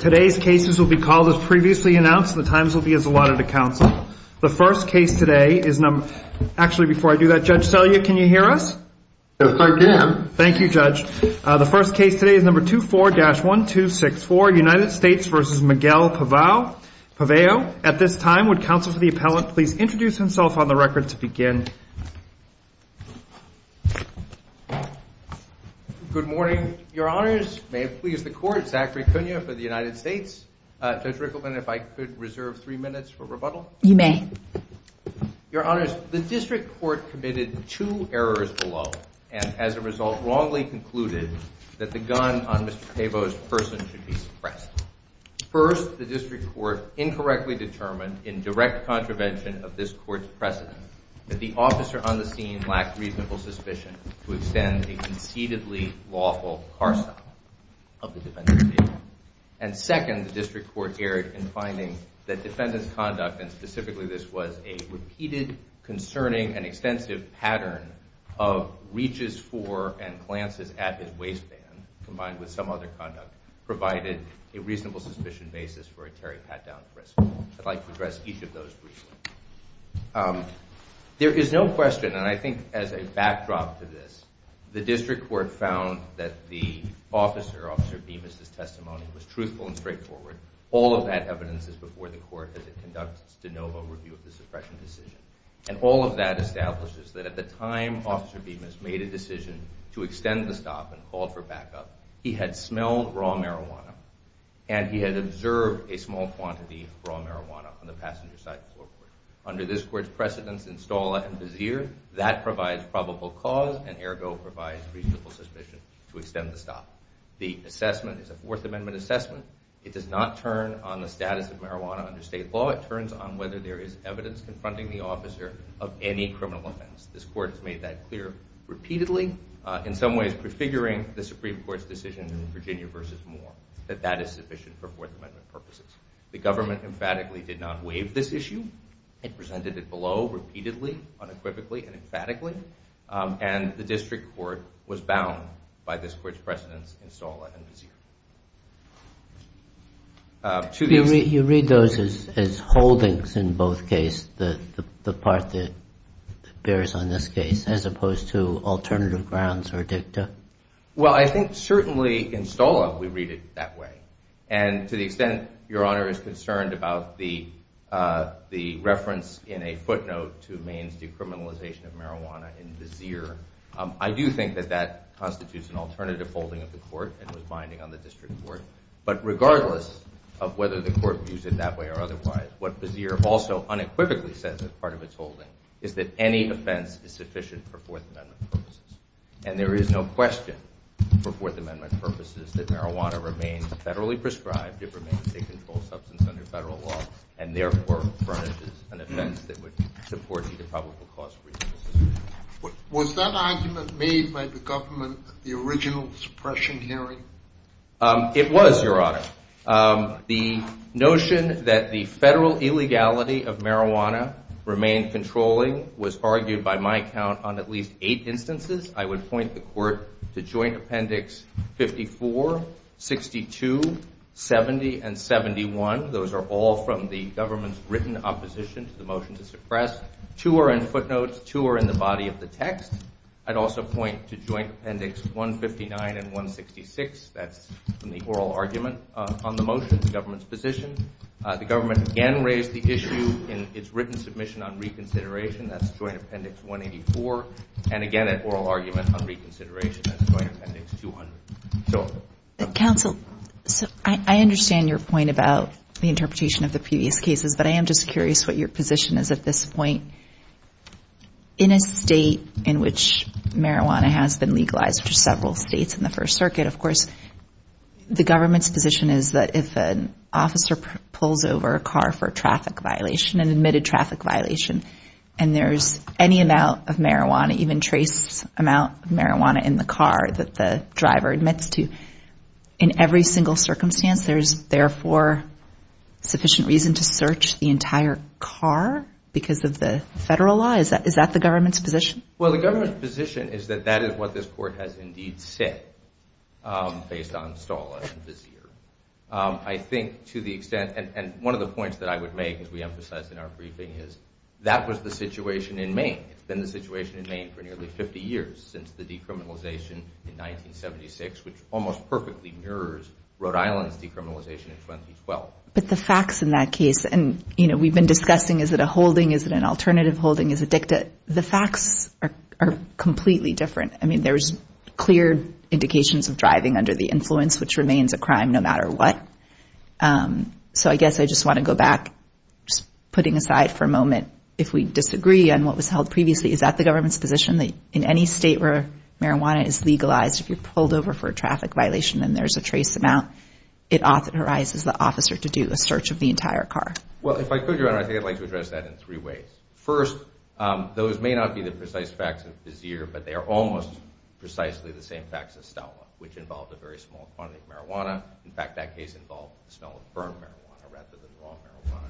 today's cases will be called as previously announced the times will be as allotted to counsel the first case today is number actually before I do that judge sell you can you hear us thank you judge the first case today is number two four dash one two six four United States versus Miguel Pavao Pavao at this time would counsel for the appellant please introduce himself on the record to begin good morning your honors may it please the court Zachary Cunha for the United States judge Rickleman if I could reserve three minutes for rebuttal you may your honors the district court committed two errors below and as a result wrongly concluded that the gun on Mr. Pavao's person should be suppressed first the district court incorrectly determined in direct contravention of this court's precedent that the officer on the scene lacked reasonable suspicion to extend a concededly lawful parcel of the defendant and second the district court erred in finding that defendants conduct and specifically this was a repeated concerning and extensive pattern of reaches for and glances at his waistband combined with some other conduct provided a reasonable suspicion basis for a Terry Pat down risk I'd like to each of those there is no question and I think as a backdrop to this the district court found that the officer officer beam is this testimony was truthful and straightforward all of that evidence is before the court as it conducts de novo review of the suppression decision and all of that establishes that at the time officer beam has made a decision to extend the stop and called for backup he had smelled raw marijuana and he had a small quantity of raw marijuana from the passenger side floor under this court's precedents install and vizier that provides probable cause and ergo provides reasonable suspicion to extend the stop the assessment is a Fourth Amendment assessment it does not turn on the status of marijuana under state law it turns on whether there is evidence confronting the officer of any criminal offense this court has made that clear repeatedly in some ways prefiguring the Supreme Court's decision in Virginia versus more that that is sufficient for the government emphatically did not waive this issue it presented it below repeatedly unequivocally and emphatically and the district court was bound by this court's precedents install it to the you read those as holdings in both case the the part that bears on this case as opposed to alternative extent your honor is concerned about the the reference in a footnote to Maine's decriminalization of marijuana in vizier I do think that that constitutes an alternative holding of the court and was binding on the district court but regardless of whether the court views it that way or otherwise what vizier also unequivocally says as part of its holding is that any offense is sufficient for Fourth Amendment purposes and there is no question for Fourth Amendment purposes that marijuana remains federally prescribed it remains a controlled substance under federal law and therefore furnishes an offense that would support the public was that argument made by the government the original suppression hearing it was your honor the notion that the federal illegality of marijuana remained controlling was argued by my account on at least eight instances I would point the court to Joint Appendix 54 62 70 and 71 those are all from the government's written opposition to the motion to suppress two are in footnotes two are in the body of the text I'd also point to Joint Appendix 159 and 166 that's from the oral argument on the motion the government's position the government again raised the issue in its written submission on reconsideration that's Joint Appendix 184 and again at oral argument on reconsideration Council so I understand your point about the interpretation of the previous cases but I am just curious what your position is at this point in a state in which marijuana has been legalized for several states in the First Circuit of course the government's position is that if an officer pulls over a car for traffic violation and admitted traffic violation and there's any amount of marijuana even trace amount of marijuana in the car that the driver admits to in every single circumstance there's therefore sufficient reason to search the entire car because of the federal law is that is that the government's position well the government's position is that that to the extent and one of the points that I would make is we emphasize in our briefing is that was the situation in Maine it's been the situation in Maine for nearly 50 years since the decriminalization in 1976 which almost perfectly mirrors Rhode Island's decriminalization in 2012 but the facts in that case and you know we've been discussing is that a holding is that an alternative holding is addicted the facts are completely different I mean there's clear indications of driving under the influence which remains a no matter what so I guess I just want to go back just putting aside for a moment if we disagree and what was held previously is that the government's position that in any state where marijuana is legalized if you're pulled over for a traffic violation and there's a trace amount it authorizes the officer to do a search of the entire car well if I could your honor I think I'd like to address that in three ways first those may not be the precise facts of this year but they are almost precisely the same facts as stout which involved a small quantity of marijuana in fact that case involved the smell of burn marijuana rather than raw marijuana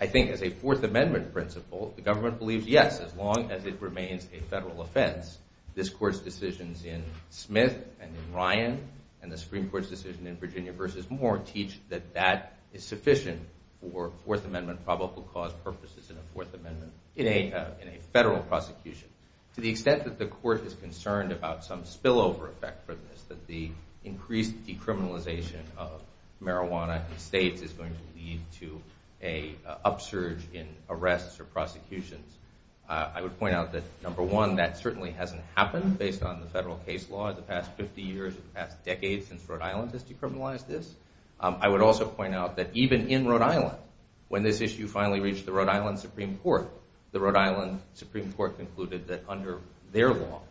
I think as a Fourth Amendment principle the government believes yes as long as it remains a federal offense this court's decisions in Smith and in Ryan and the Supreme Court's decision in Virginia versus more teach that that is sufficient for Fourth Amendment probable cause purposes in a Fourth Amendment in a in a federal prosecution to the extent that the court is concerned about some spillover effect for this that the increased decriminalization of marijuana and states is going to lead to a upsurge in arrests or prosecutions I would point out that number one that certainly hasn't happened based on the federal case law the past 50 years in the past decades since Rhode Island has decriminalized this I would also point out that even in Rhode Island when this issue finally reached the Rhode Island Supreme Court the Rhode Island Supreme Court concluded that under their law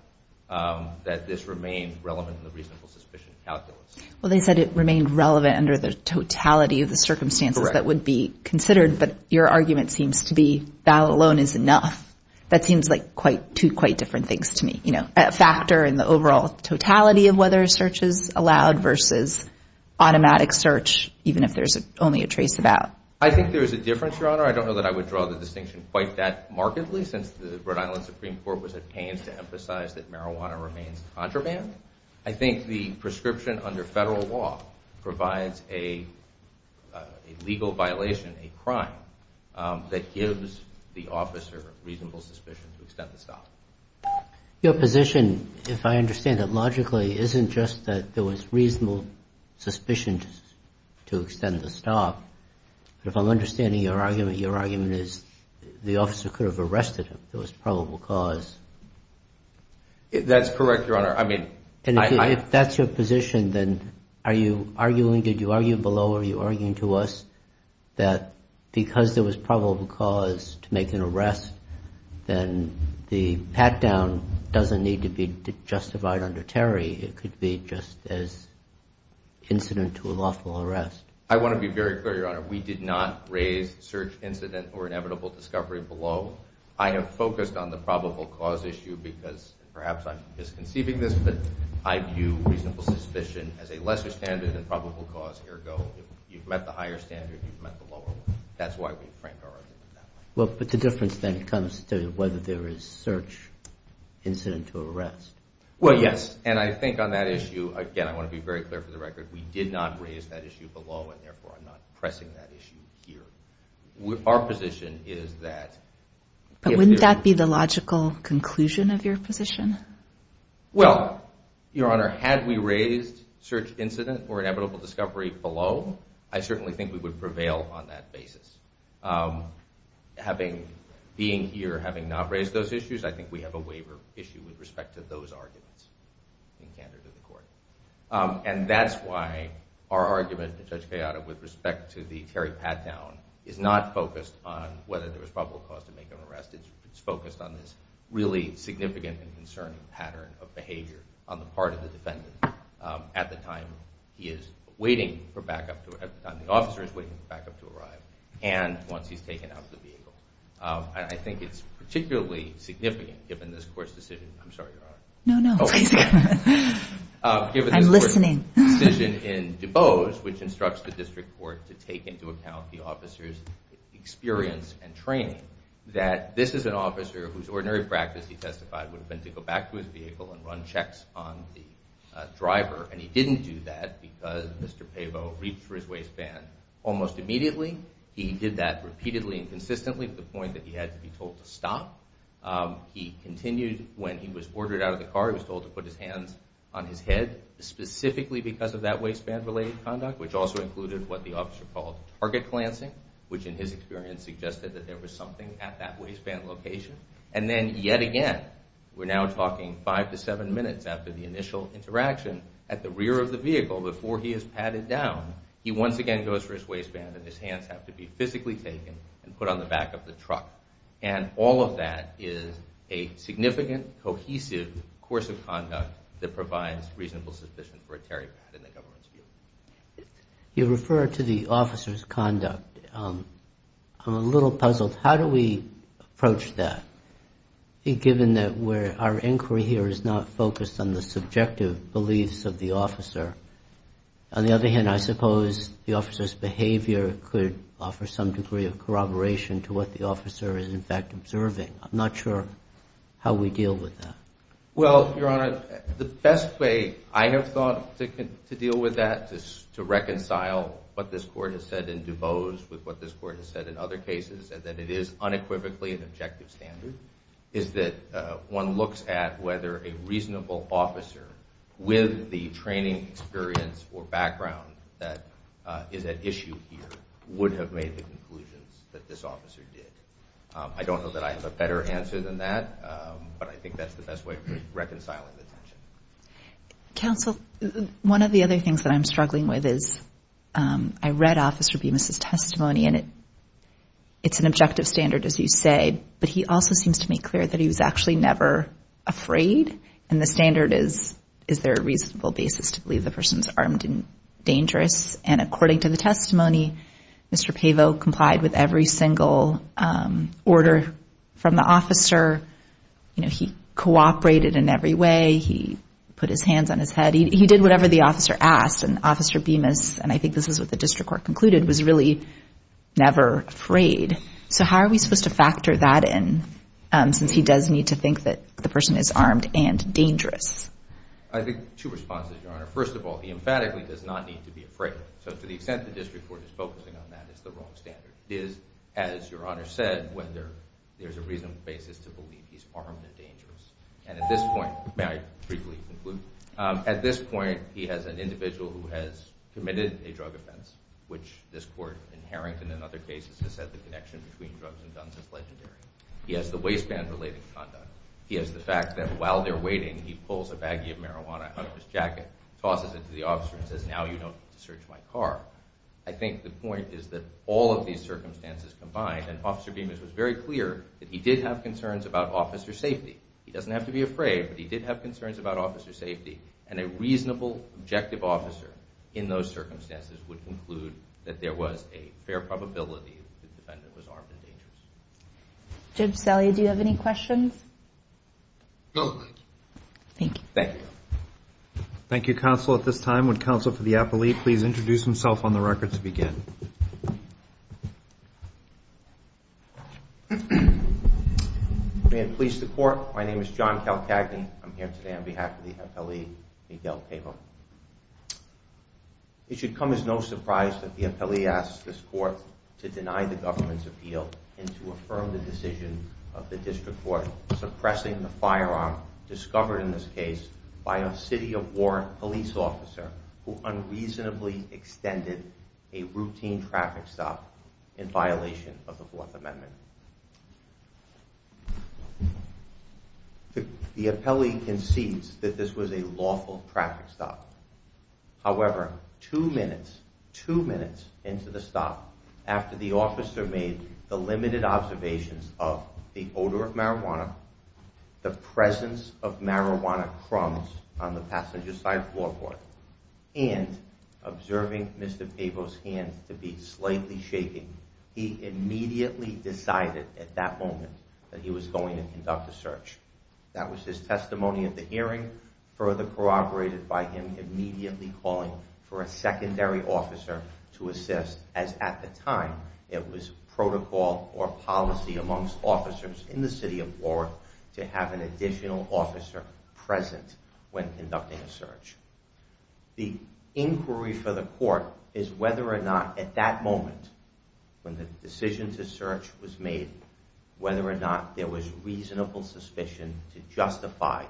that this remained relevant in the reasonable suspicion calculus well they said it remained relevant under the totality of the circumstances that would be considered but your argument seems to be that alone is enough that seems like quite two quite different things to me you know a factor in the overall totality of whether searches allowed versus automatic search even if there's only a trace about I think there's a difference your honor I don't know that I would draw the distinction quite that markedly since the Rhode Island Supreme Court was at pains to emphasize that marijuana remains contraband I think the prescription under federal law provides a legal violation a crime that gives the officer reasonable suspicion to extend the stop your position if I understand that logically isn't just that there was reasonable suspicion to extend the stop but if I'm understanding your argument is the officer could have arrested him there was probable cause that's correct your honor I mean and if that's your position then are you arguing did you argue below are you arguing to us that because there was probable cause to make an arrest then the pat-down doesn't need to be justified under Terry it could be just as incident to a lawful arrest I want to be very clear your honor we did not raise search incident or inevitable discovery below I have focused on the probable cause issue because perhaps I'm just conceiving this but I view reasonable suspicion as a lesser standard and probable cause ergo you've met the higher standard you've met the lower one that's why we frank our argument well but the difference then comes to whether there is search incident to arrest well yes and I think on that issue again I want to be very clear for the record we did not raise that issue below and therefore I'm not pressing that issue here with our position is that wouldn't that be the logical conclusion of your position well your honor had we raised search incident or inevitable discovery below I certainly think we would prevail on that basis having being here having not raised those issues I think we have a waiver issue with respect to those arguments and that's why our argument in such chaotic with respect to the Terry Pat down is not focused on whether there was probable cause to make an arrest it's focused on this really significant and concerning pattern of behavior on the part of the defendant at the time he is waiting for backup to at the time the officer is waiting for backup to arrive and once he's taken out of the vehicle I think it's particularly significant given this court's decision I'm sorry your honor no I'm listening decision in DuBose which instructs the district court to take into account the officers experience and training that this is an officer whose ordinary practice he testified would have been to go back to his vehicle and run checks on the driver and he didn't do that because mr. Pavo reached for his waistband almost immediately he did that repeatedly and consistently at the point that he had to be told to stop he continued when he was ordered out of the car he was told to put his hands on his head specifically because of that waistband related conduct which also included what the officer called target glancing which in his experience suggested that there was something at that waistband location and then yet again we're now talking five to seven minutes after the initial interaction at the rear of the vehicle before he is padded down he once again goes for his waistband and his hands have to be physically taken and put on the back of the truck and all of that is a force of conduct that provides reasonable suspicion for a tarry pad in the government's view. You refer to the officer's conduct I'm a little puzzled how do we approach that given that where our inquiry here is not focused on the subjective beliefs of the officer on the other hand I suppose the officer's behavior could offer some degree of corroboration to what the officer is in fact observing I'm not sure how we deal with that. Well your honor the best way I have thought to deal with that is to reconcile what this court has said in DuBose with what this court has said in other cases and that it is unequivocally an objective standard is that one looks at whether a reasonable officer with the training experience or background that is at issue here would have made the that this officer did. I don't know that I have a better answer than that but I think that's the best way for reconciling the tension. Counsel one of the other things that I'm struggling with is I read officer Bemis' testimony and it it's an objective standard as you say but he also seems to make clear that he was actually never afraid and the standard is is there a reasonable basis to believe the person's armed and dangerous and according to the testimony Mr. Pavo complied with every single order from the officer you know he cooperated in every way he put his hands on his head he did whatever the officer asked and officer Bemis and I think this is what the district court concluded was really never afraid so how are we supposed to factor that in since he does need to think that the person is armed and dangerous? I think two responses your honor first of all he emphatically does not need to be afraid so to the extent the district court is focusing on that is the wrong standard is as your honor said whether there's a reasonable basis to believe he's armed and dangerous and at this point may I briefly conclude at this point he has an individual who has committed a drug offense which this court in Harrington and other cases has said the connection between drugs and guns is legendary he has the waistband related conduct he has the fact that while they're waiting he pulls a baggie of marijuana out of his jacket tosses it to the officer and says now you know to search my car I think the point is that all of these circumstances combined and officer Bemis was very clear that he did have concerns about officer safety he doesn't have to be afraid but he did have concerns about officer safety and a reasonable objective officer in those circumstances would conclude that there was a fair probability that the defendant was armed and dangerous. Judge Salia do you have any questions? No thank you. Thank you counsel at this time would counsel for the appellee please introduce himself on the record to begin. May it please the court my name is John Calcagni I'm here today on behalf of the appellee Miguel Cabo. It should come as no surprise that the appellee asked this court to deny the government's appeal and to affirm the decision of the district court suppressing the firearm discovered in this case by a city of Warren police officer who unreasonably extended a routine traffic stop in violation of the Fourth Amendment. The appellee concedes that this was a lawful traffic stop however two minutes two minutes into the stop after the officer made the limited observations of the odor of marijuana the presence of marijuana crumbs on the passenger side floorboard and observing Mr. Cabo's hands to be slightly shaking he immediately decided at that moment that he was going to conduct a search. That was his testimony at the hearing further corroborated by him immediately calling for a secondary officer to assist as at the time it was protocol or policy amongst officers in the city of New York to have an additional officer present when conducting a search. The inquiry for the court is whether or not at that moment when the decision to search was made whether or not there was reasonable suspicion to justify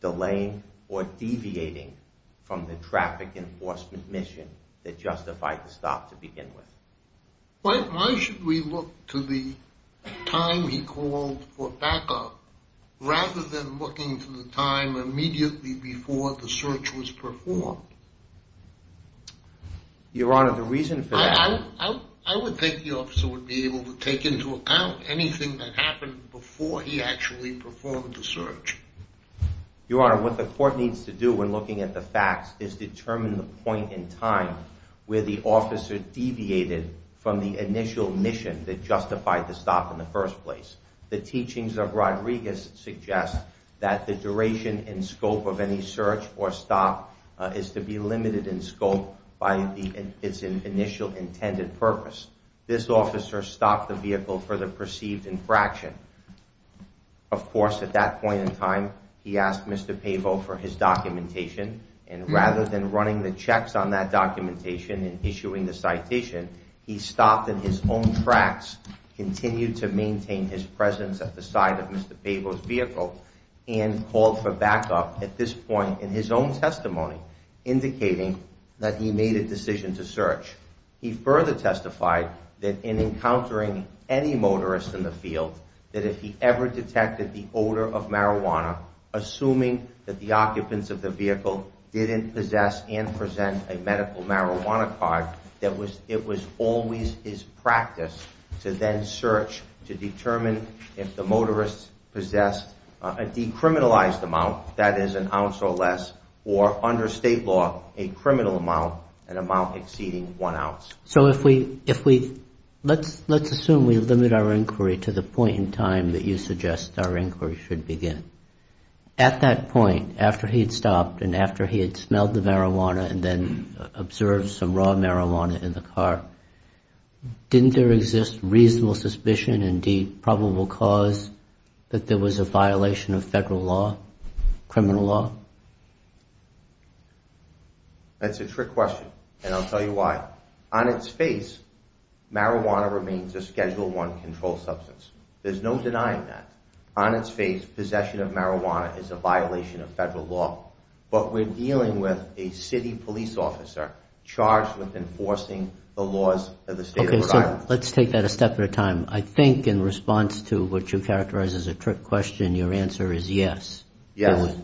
delaying or deviating from the traffic enforcement mission that justified the to begin with. Why should we look to the time he called for backup rather than looking to the time immediately before the search was performed? Your Honor the reason for that... I would think the officer would be able to take into account anything that happened before he actually performed the search. Your Honor what the court needs to do when looking at the facts is determine the point in time where the officer deviated from the initial mission that justified the stop in the first place. The teachings of Rodriguez suggest that the duration in scope of any search or stop is to be limited in scope by its initial intended purpose. This officer stopped the vehicle for the perceived infraction. Of course at that point in time he asked Mr. Cabo for his documentation and rather than running the checks on that documentation and issuing the citation he stopped in his own tracks, continued to maintain his presence at the side of Mr. Cabo's vehicle and called for backup at this point in his own testimony indicating that he made a decision to search. He further testified that in encountering any motorist in the field that if he ever detected the odor of assuming that the occupants of the vehicle didn't possess and present a medical marijuana card that was it was always his practice to then search to determine if the motorist possessed a decriminalized amount that is an ounce or less or under state law a criminal amount an amount exceeding one ounce. So if we if we let's let's assume we limit our inquiry to the point in time that you suggest our inquiry should begin. At that point after he had stopped and after he had smelled the marijuana and then observed some raw marijuana in the car didn't there exist reasonable suspicion indeed probable cause that there was a violation of federal law criminal law? That's a trick question and I'll tell you why. On its face marijuana remains a schedule one control substance. There's no denying that. On its face possession of marijuana is a violation of federal law but we're dealing with a city police officer charged with enforcing the laws of the state of Rhode Island. Let's take that a step at a time. I think in response to what you characterize as a trick question your answer is yes. Yes.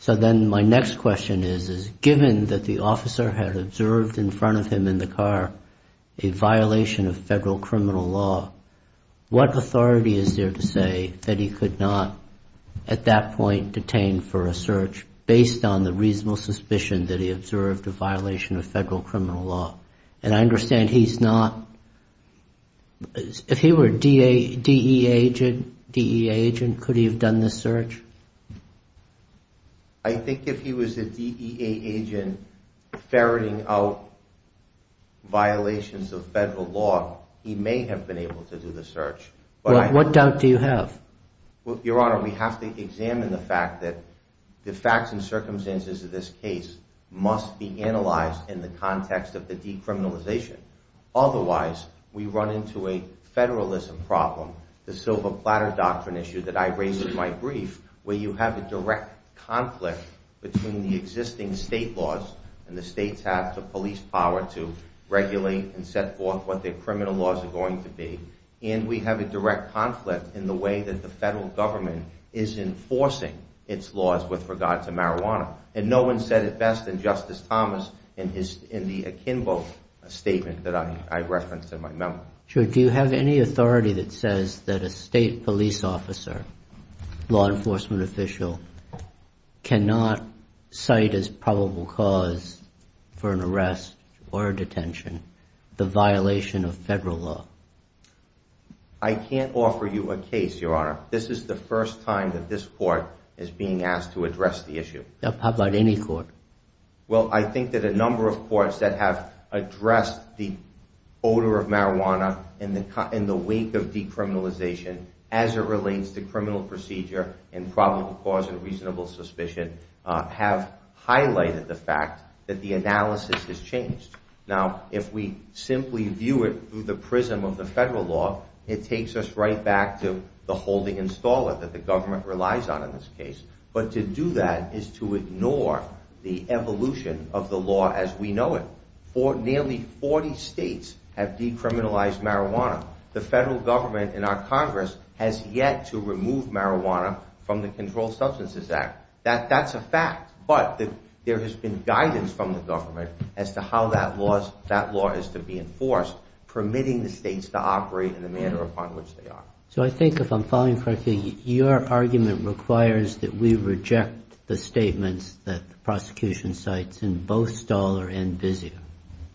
So then my next question is is given that the officer had observed in front of him in the car a violation of federal criminal law what authority is there to say that he could not at that point detained for a search based on the reasonable suspicion that he observed a violation of federal criminal law? And I understand he's not if he were a DEA agent DEA agent could he have done this search? I think if he was a DEA agent ferreting out violations of federal law he may have been able to do the search. What doubt do you have? Well your honor we have to examine the fact that the facts and circumstances of this case must be analyzed in the context of the decriminalization. Otherwise we run into a federalism problem the silver platter doctrine issue that I raised in my brief where you have a direct conflict between the state laws and the states have the police power to regulate and set forth what their criminal laws are going to be and we have a direct conflict in the way that the federal government is enforcing its laws with regard to marijuana and no one said it best than Justice Thomas in his in the akimbo statement that I referenced in my memo. Sure do you have any authority that says that a state police officer law enforcement official cannot cite as probable cause for an arrest or detention the violation of federal law? I can't offer you a case your honor this is the first time that this court is being asked to address the issue. How about any court? Well I think that a number of courts that have addressed the odor of marijuana in the wake of decriminalization as it relates to criminal procedure and probable cause and reasonable suspicion have highlighted the fact that the analysis has changed. Now if we simply view it through the prism of the federal law it takes us right back to the holding installer that the government relies on in this case but to do that is to ignore the evolution of the law as we know it. Nearly 40 states have decriminalized marijuana the federal government in our Congress has yet to remove marijuana from the Controlled Substances Act that that's a fact but there has been guidance from the government as to how that laws that law is to be enforced permitting the states to operate in the manner upon which they are. So I think if I'm following correctly your argument requires that we reject the statements that the prosecution cites in both Stoller and Vizio.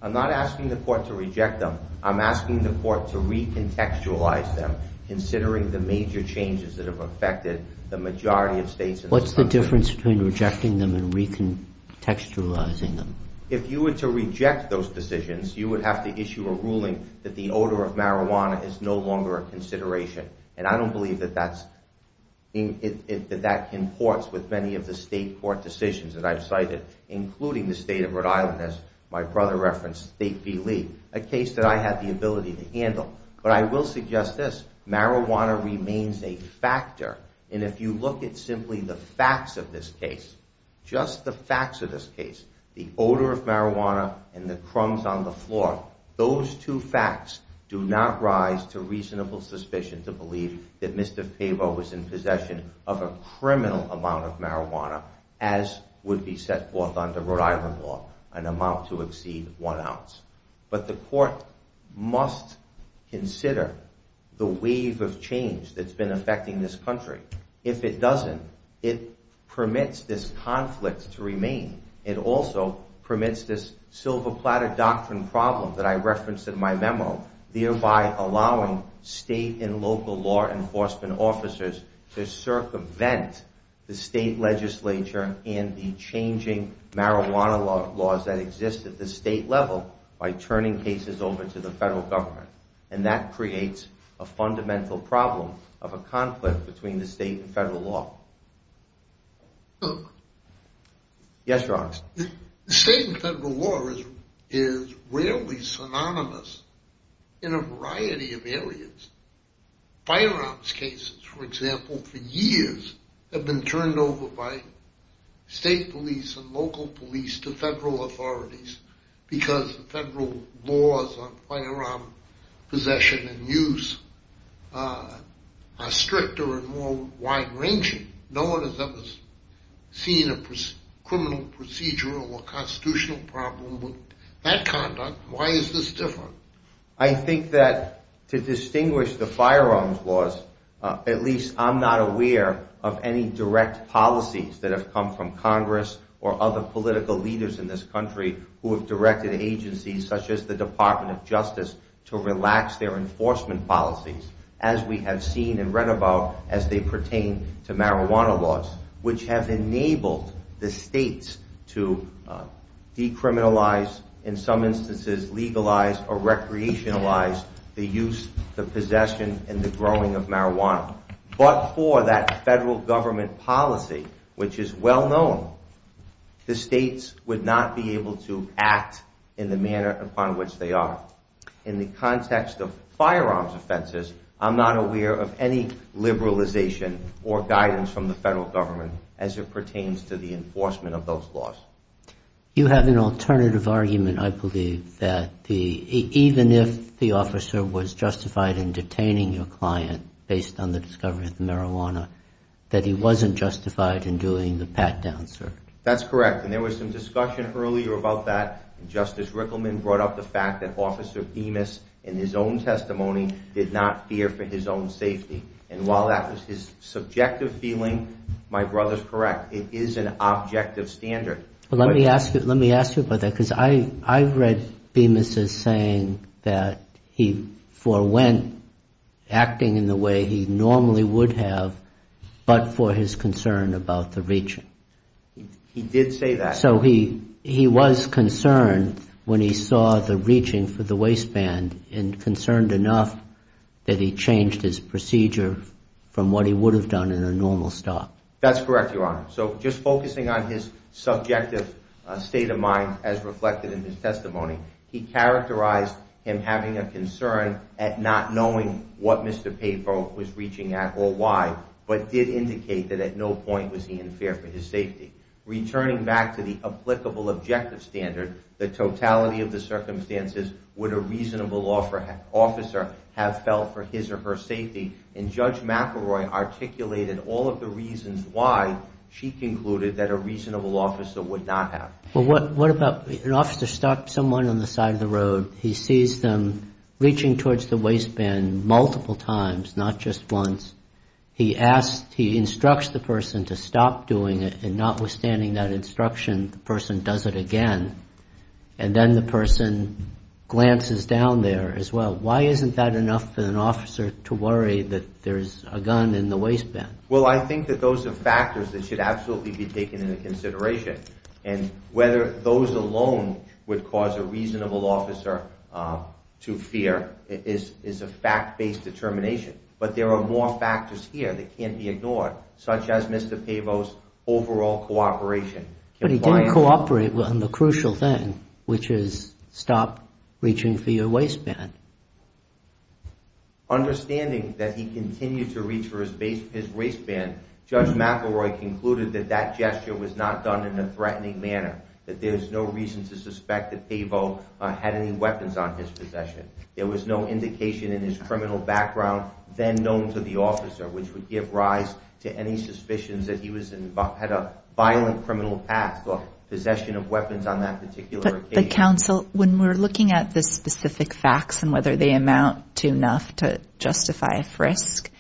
I'm not asking the court to reject them I'm asking the court to recontextualize them considering the major changes that have affected the majority of states. What's the difference between rejecting them and recontextualizing them? If you were to reject those decisions you would have to issue a ruling that the odor of marijuana is no longer a consideration and I don't believe that that's in it that that comports with many of the state court decisions that I've cited including the state of Rhode Island as my brother referenced State v. Lee. A case that I had the ability to handle but I will suggest this marijuana remains a factor and if you look at simply the facts of this case just the facts of this case the odor of marijuana and the crumbs on the floor those two facts do not rise to reasonable suspicion to believe that Mr. Faber was in possession of a criminal amount of marijuana as would be set forth under Rhode Island law an amount to exceed one ounce. But the court must consider the wave of change that's been affecting this country. If it doesn't it permits this conflict to remain. It also permits this silver platter doctrine problem that I referenced in my memo thereby allowing state and local law enforcement officers to circumvent the state legislature and the changing marijuana laws that exist at the state level by turning cases over to the federal government and that creates a fundamental problem of a conflict between the state and federal law. Yes in a variety of areas firearms cases for example for years have been turned over by state police and local police to federal authorities because the federal laws on firearm possession and use are stricter and more wide-ranging. No one has ever seen a criminal procedural or constitutional problem with that conduct. Why is this different? I think that to distinguish the firearms laws at least I'm not aware of any direct policies that have come from Congress or other political leaders in this country who have directed agencies such as the Department of Justice to relax their enforcement policies as we have seen and read about as they pertain to marijuana laws which have enabled the states to decriminalize in some instances legalize or recreationalize the use the possession and the growing of marijuana but for that federal government policy which is well known the states would not be able to act in the manner upon which they are. In the context of firearms offenses I'm not aware of any liberalization or guidance from the federal government as it pertains to the You have an alternative argument I believe that the even if the officer was justified in detaining your client based on the discovery of marijuana that he wasn't justified in doing the pat down search. That's correct and there was some discussion earlier about that Justice Rickleman brought up the fact that officer Demas in his own testimony did not fear for his own safety and while that was his subjective feeling my brother's correct it is an objective standard. Let me ask you let me ask you about that because I read Demas as saying that he forewent acting in the way he normally would have but for his concern about the reaching. He did say that. So he he was concerned when he saw the reaching for the waistband and concerned enough that he changed his procedure from what he would have done in a normal stop. That's correct your So just focusing on his subjective state of mind as reflected in his testimony he characterized him having a concern at not knowing what Mr. Papo was reaching at or why but did indicate that at no point was he in fear for his safety. Returning back to the applicable objective standard the totality of the circumstances would a reasonable law for an officer have felt for his or her included that a reasonable officer would not have. Well what what about an officer stopped someone on the side of the road he sees them reaching towards the waistband multiple times not just once. He asked he instructs the person to stop doing it and notwithstanding that instruction the person does it again and then the person glances down there as well. Why isn't that enough for an officer to worry that there's a gun in the waistband? Well I think that those are factors that should absolutely be taken into consideration and whether those alone would cause a reasonable officer to fear is is a fact-based determination but there are more factors here that can't be ignored such as Mr. Papo's overall cooperation. But he didn't cooperate on the crucial thing which is stop reaching for your waistband. Understanding that he continued to reach for his waistband, Judge McElroy concluded that that gesture was not done in a threatening manner. That there's no reason to suspect that Papo had any weapons on his possession. There was no indication in his criminal background then known to the officer which would give rise to any suspicions that he was involved had a violent criminal past or possession of weapons on that particular occasion. But the counsel when we're looking at the specific facts and whether they amount to enough to justify a frisk,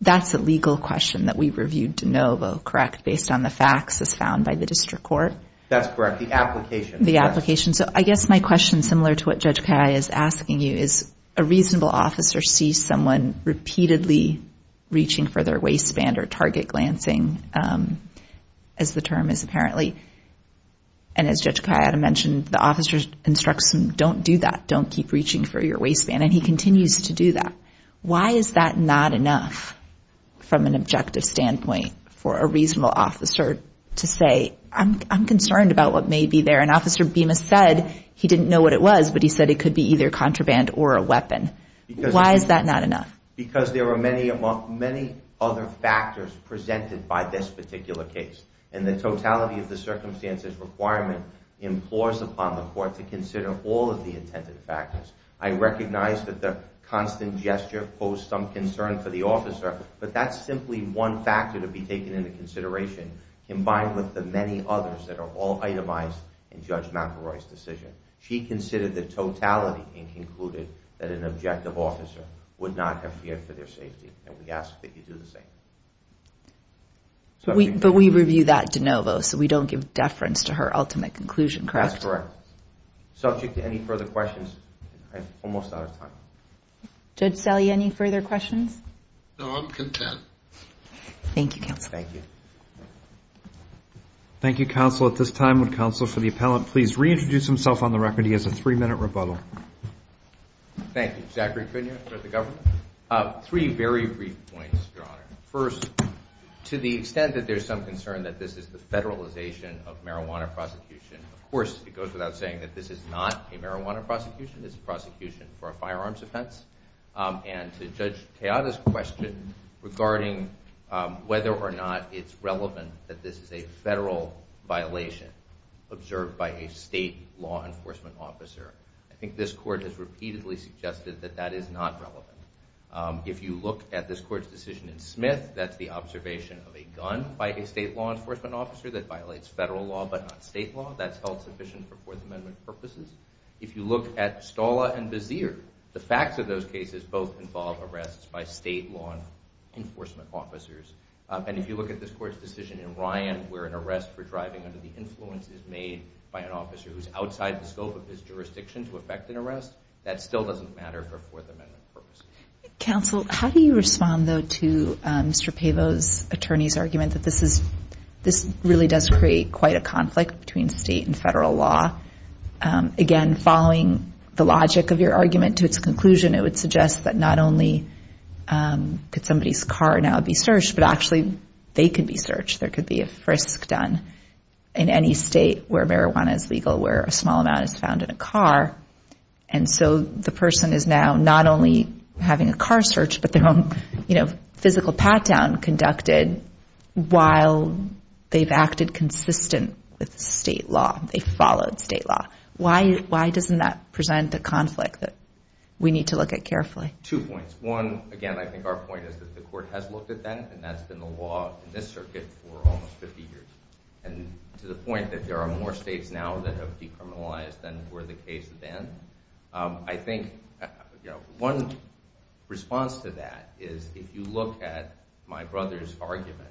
that's a legal question that we reviewed de novo correct? Based on the facts as found by the district court? That's correct. The application. The application. So I guess my question similar to what Judge Kaya is asking you is a reasonable officer sees someone repeatedly reaching for their waistband or target glancing as the term is apparently and as Judge Kaya mentioned the officer's instruction don't do that. Don't keep reaching for your waistband and he continues to do that. Why is that not enough from an objective standpoint for a reasonable officer to say I'm concerned about what may be there and officer Bemis said he didn't know what it was but he said it could be either contraband or a weapon. Why is that not enough? Because there were many among many other factors presented by this particular case and the totality of the circumstances requirement implores upon the court to consider all of the intended factors. I recognize that the constant gesture posed some concern for the officer but that's simply one factor to be taken into consideration combined with the many others that are all itemized in Judge McElroy's decision. She considered the totality and concluded that an objective officer would not have feared for their safety and we ask that you do the same. But we review that de novo so we don't give deference to her ultimate conclusion, correct? That's correct. Subject to any further questions, I'm almost out of time. Judge Selle, any further questions? No, I'm content. Thank you, counsel. Thank you. Thank you, counsel. At this time, would counsel for the appellant please reintroduce himself on the record. He has a three-minute rebuttal. Thank you. Zachary Cunha for the government. Three very brief points, Your Honor. First, to the extent that there's some concern that this is the federalization of marijuana prosecution, of course it goes without saying that this is not a marijuana prosecution. It's a prosecution for a firearms offense. And to Judge Keada's question regarding whether or not it's relevant that this is a federal violation observed by a state law enforcement officer, I think this court has repeatedly suggested that that is not relevant. If you look at this court's decision in Smith, that's the state law enforcement officer that violates federal law but not state law. That's held sufficient for Fourth Amendment purposes. If you look at Stala and Bazier, the facts of those cases both involve arrests by state law enforcement officers. And if you look at this court's decision in Ryan, where an arrest for driving under the influence is made by an officer who's outside the scope of his jurisdiction to affect an arrest, that still doesn't matter for Fourth Amendment purposes. Counsel, how do you respond though to Mr. Pavo's attorney's argument that this really does create quite a conflict between state and federal law? Again, following the logic of your argument to its conclusion, it would suggest that not only could somebody's car now be searched, but actually they could be searched. There could be a frisk done in any state where marijuana is legal, where a small amount is found in a car. And so the person is now not only having a car search, but their own, you know, physical pat-down conducted while they've acted consistent with state law. They followed state law. Why doesn't that present a conflict that we need to look at carefully? Two points. One, again, I think our point is that the court has looked at that and that's been the law in this circuit for almost 50 years. And to the point that there are more states now that have decriminalized than were the case then, I think, you know, one response to that is if you look at my brother's argument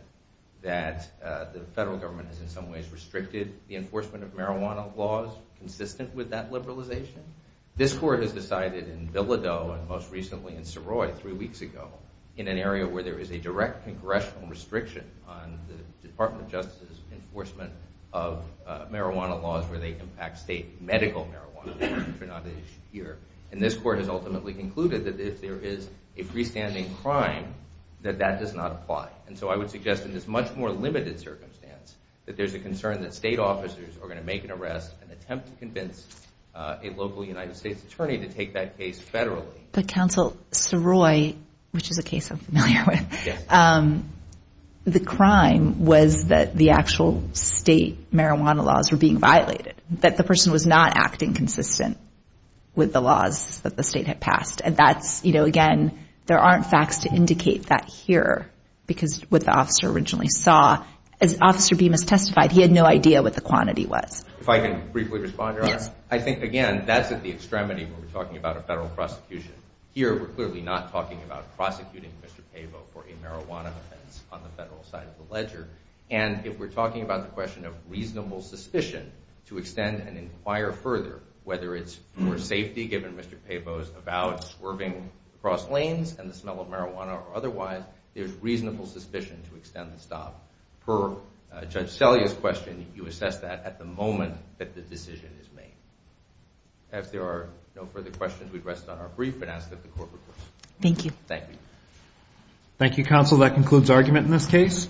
that the federal government has in some ways restricted the enforcement of marijuana laws consistent with that liberalization, this court has decided in Bilodeau and most recently in Saroy three weeks ago, in an area where there is a direct congressional restriction on the Department of Justice's enforcement of marijuana laws where they impact state medical marijuana, which are not an issue here. And this court has ultimately concluded that if there is a freestanding crime, that that does not apply. And so I would suggest in this much more limited circumstance that there's a concern that state officers are going to make an arrest and attempt to convince a local United States attorney to take that case federally. But, Counsel, Saroy, which is a case I'm familiar with, the crime was that the actual state marijuana laws were being violated. That the person was not acting consistent with the laws that the state had passed. And that's, you know, again, there aren't facts to indicate that here, because what the officer originally saw, as Officer Bemis testified, he had no idea what the quantity was. If I can briefly respond, Your Honor? Yes. I think, again, that's at the extremity when we're talking about a federal prosecution. Here, we're clearly not talking about prosecuting Mr. Pavo for a marijuana offense on the federal side of the ledger. And if we're talking about the question of reasonable suspicion to extend and inquire further, whether it's for safety, given Mr. Pavo's avowed swerving across lanes and the smell of marijuana or otherwise, there's reasonable suspicion to extend the stop. Per Judge Selya's question, you assess that at the moment that the decision is made. If there are no further questions, we'd rest on our brief and ask that the Court recourse. Thank you. Thank you. Thank you, Counsel. That concludes argument in this case.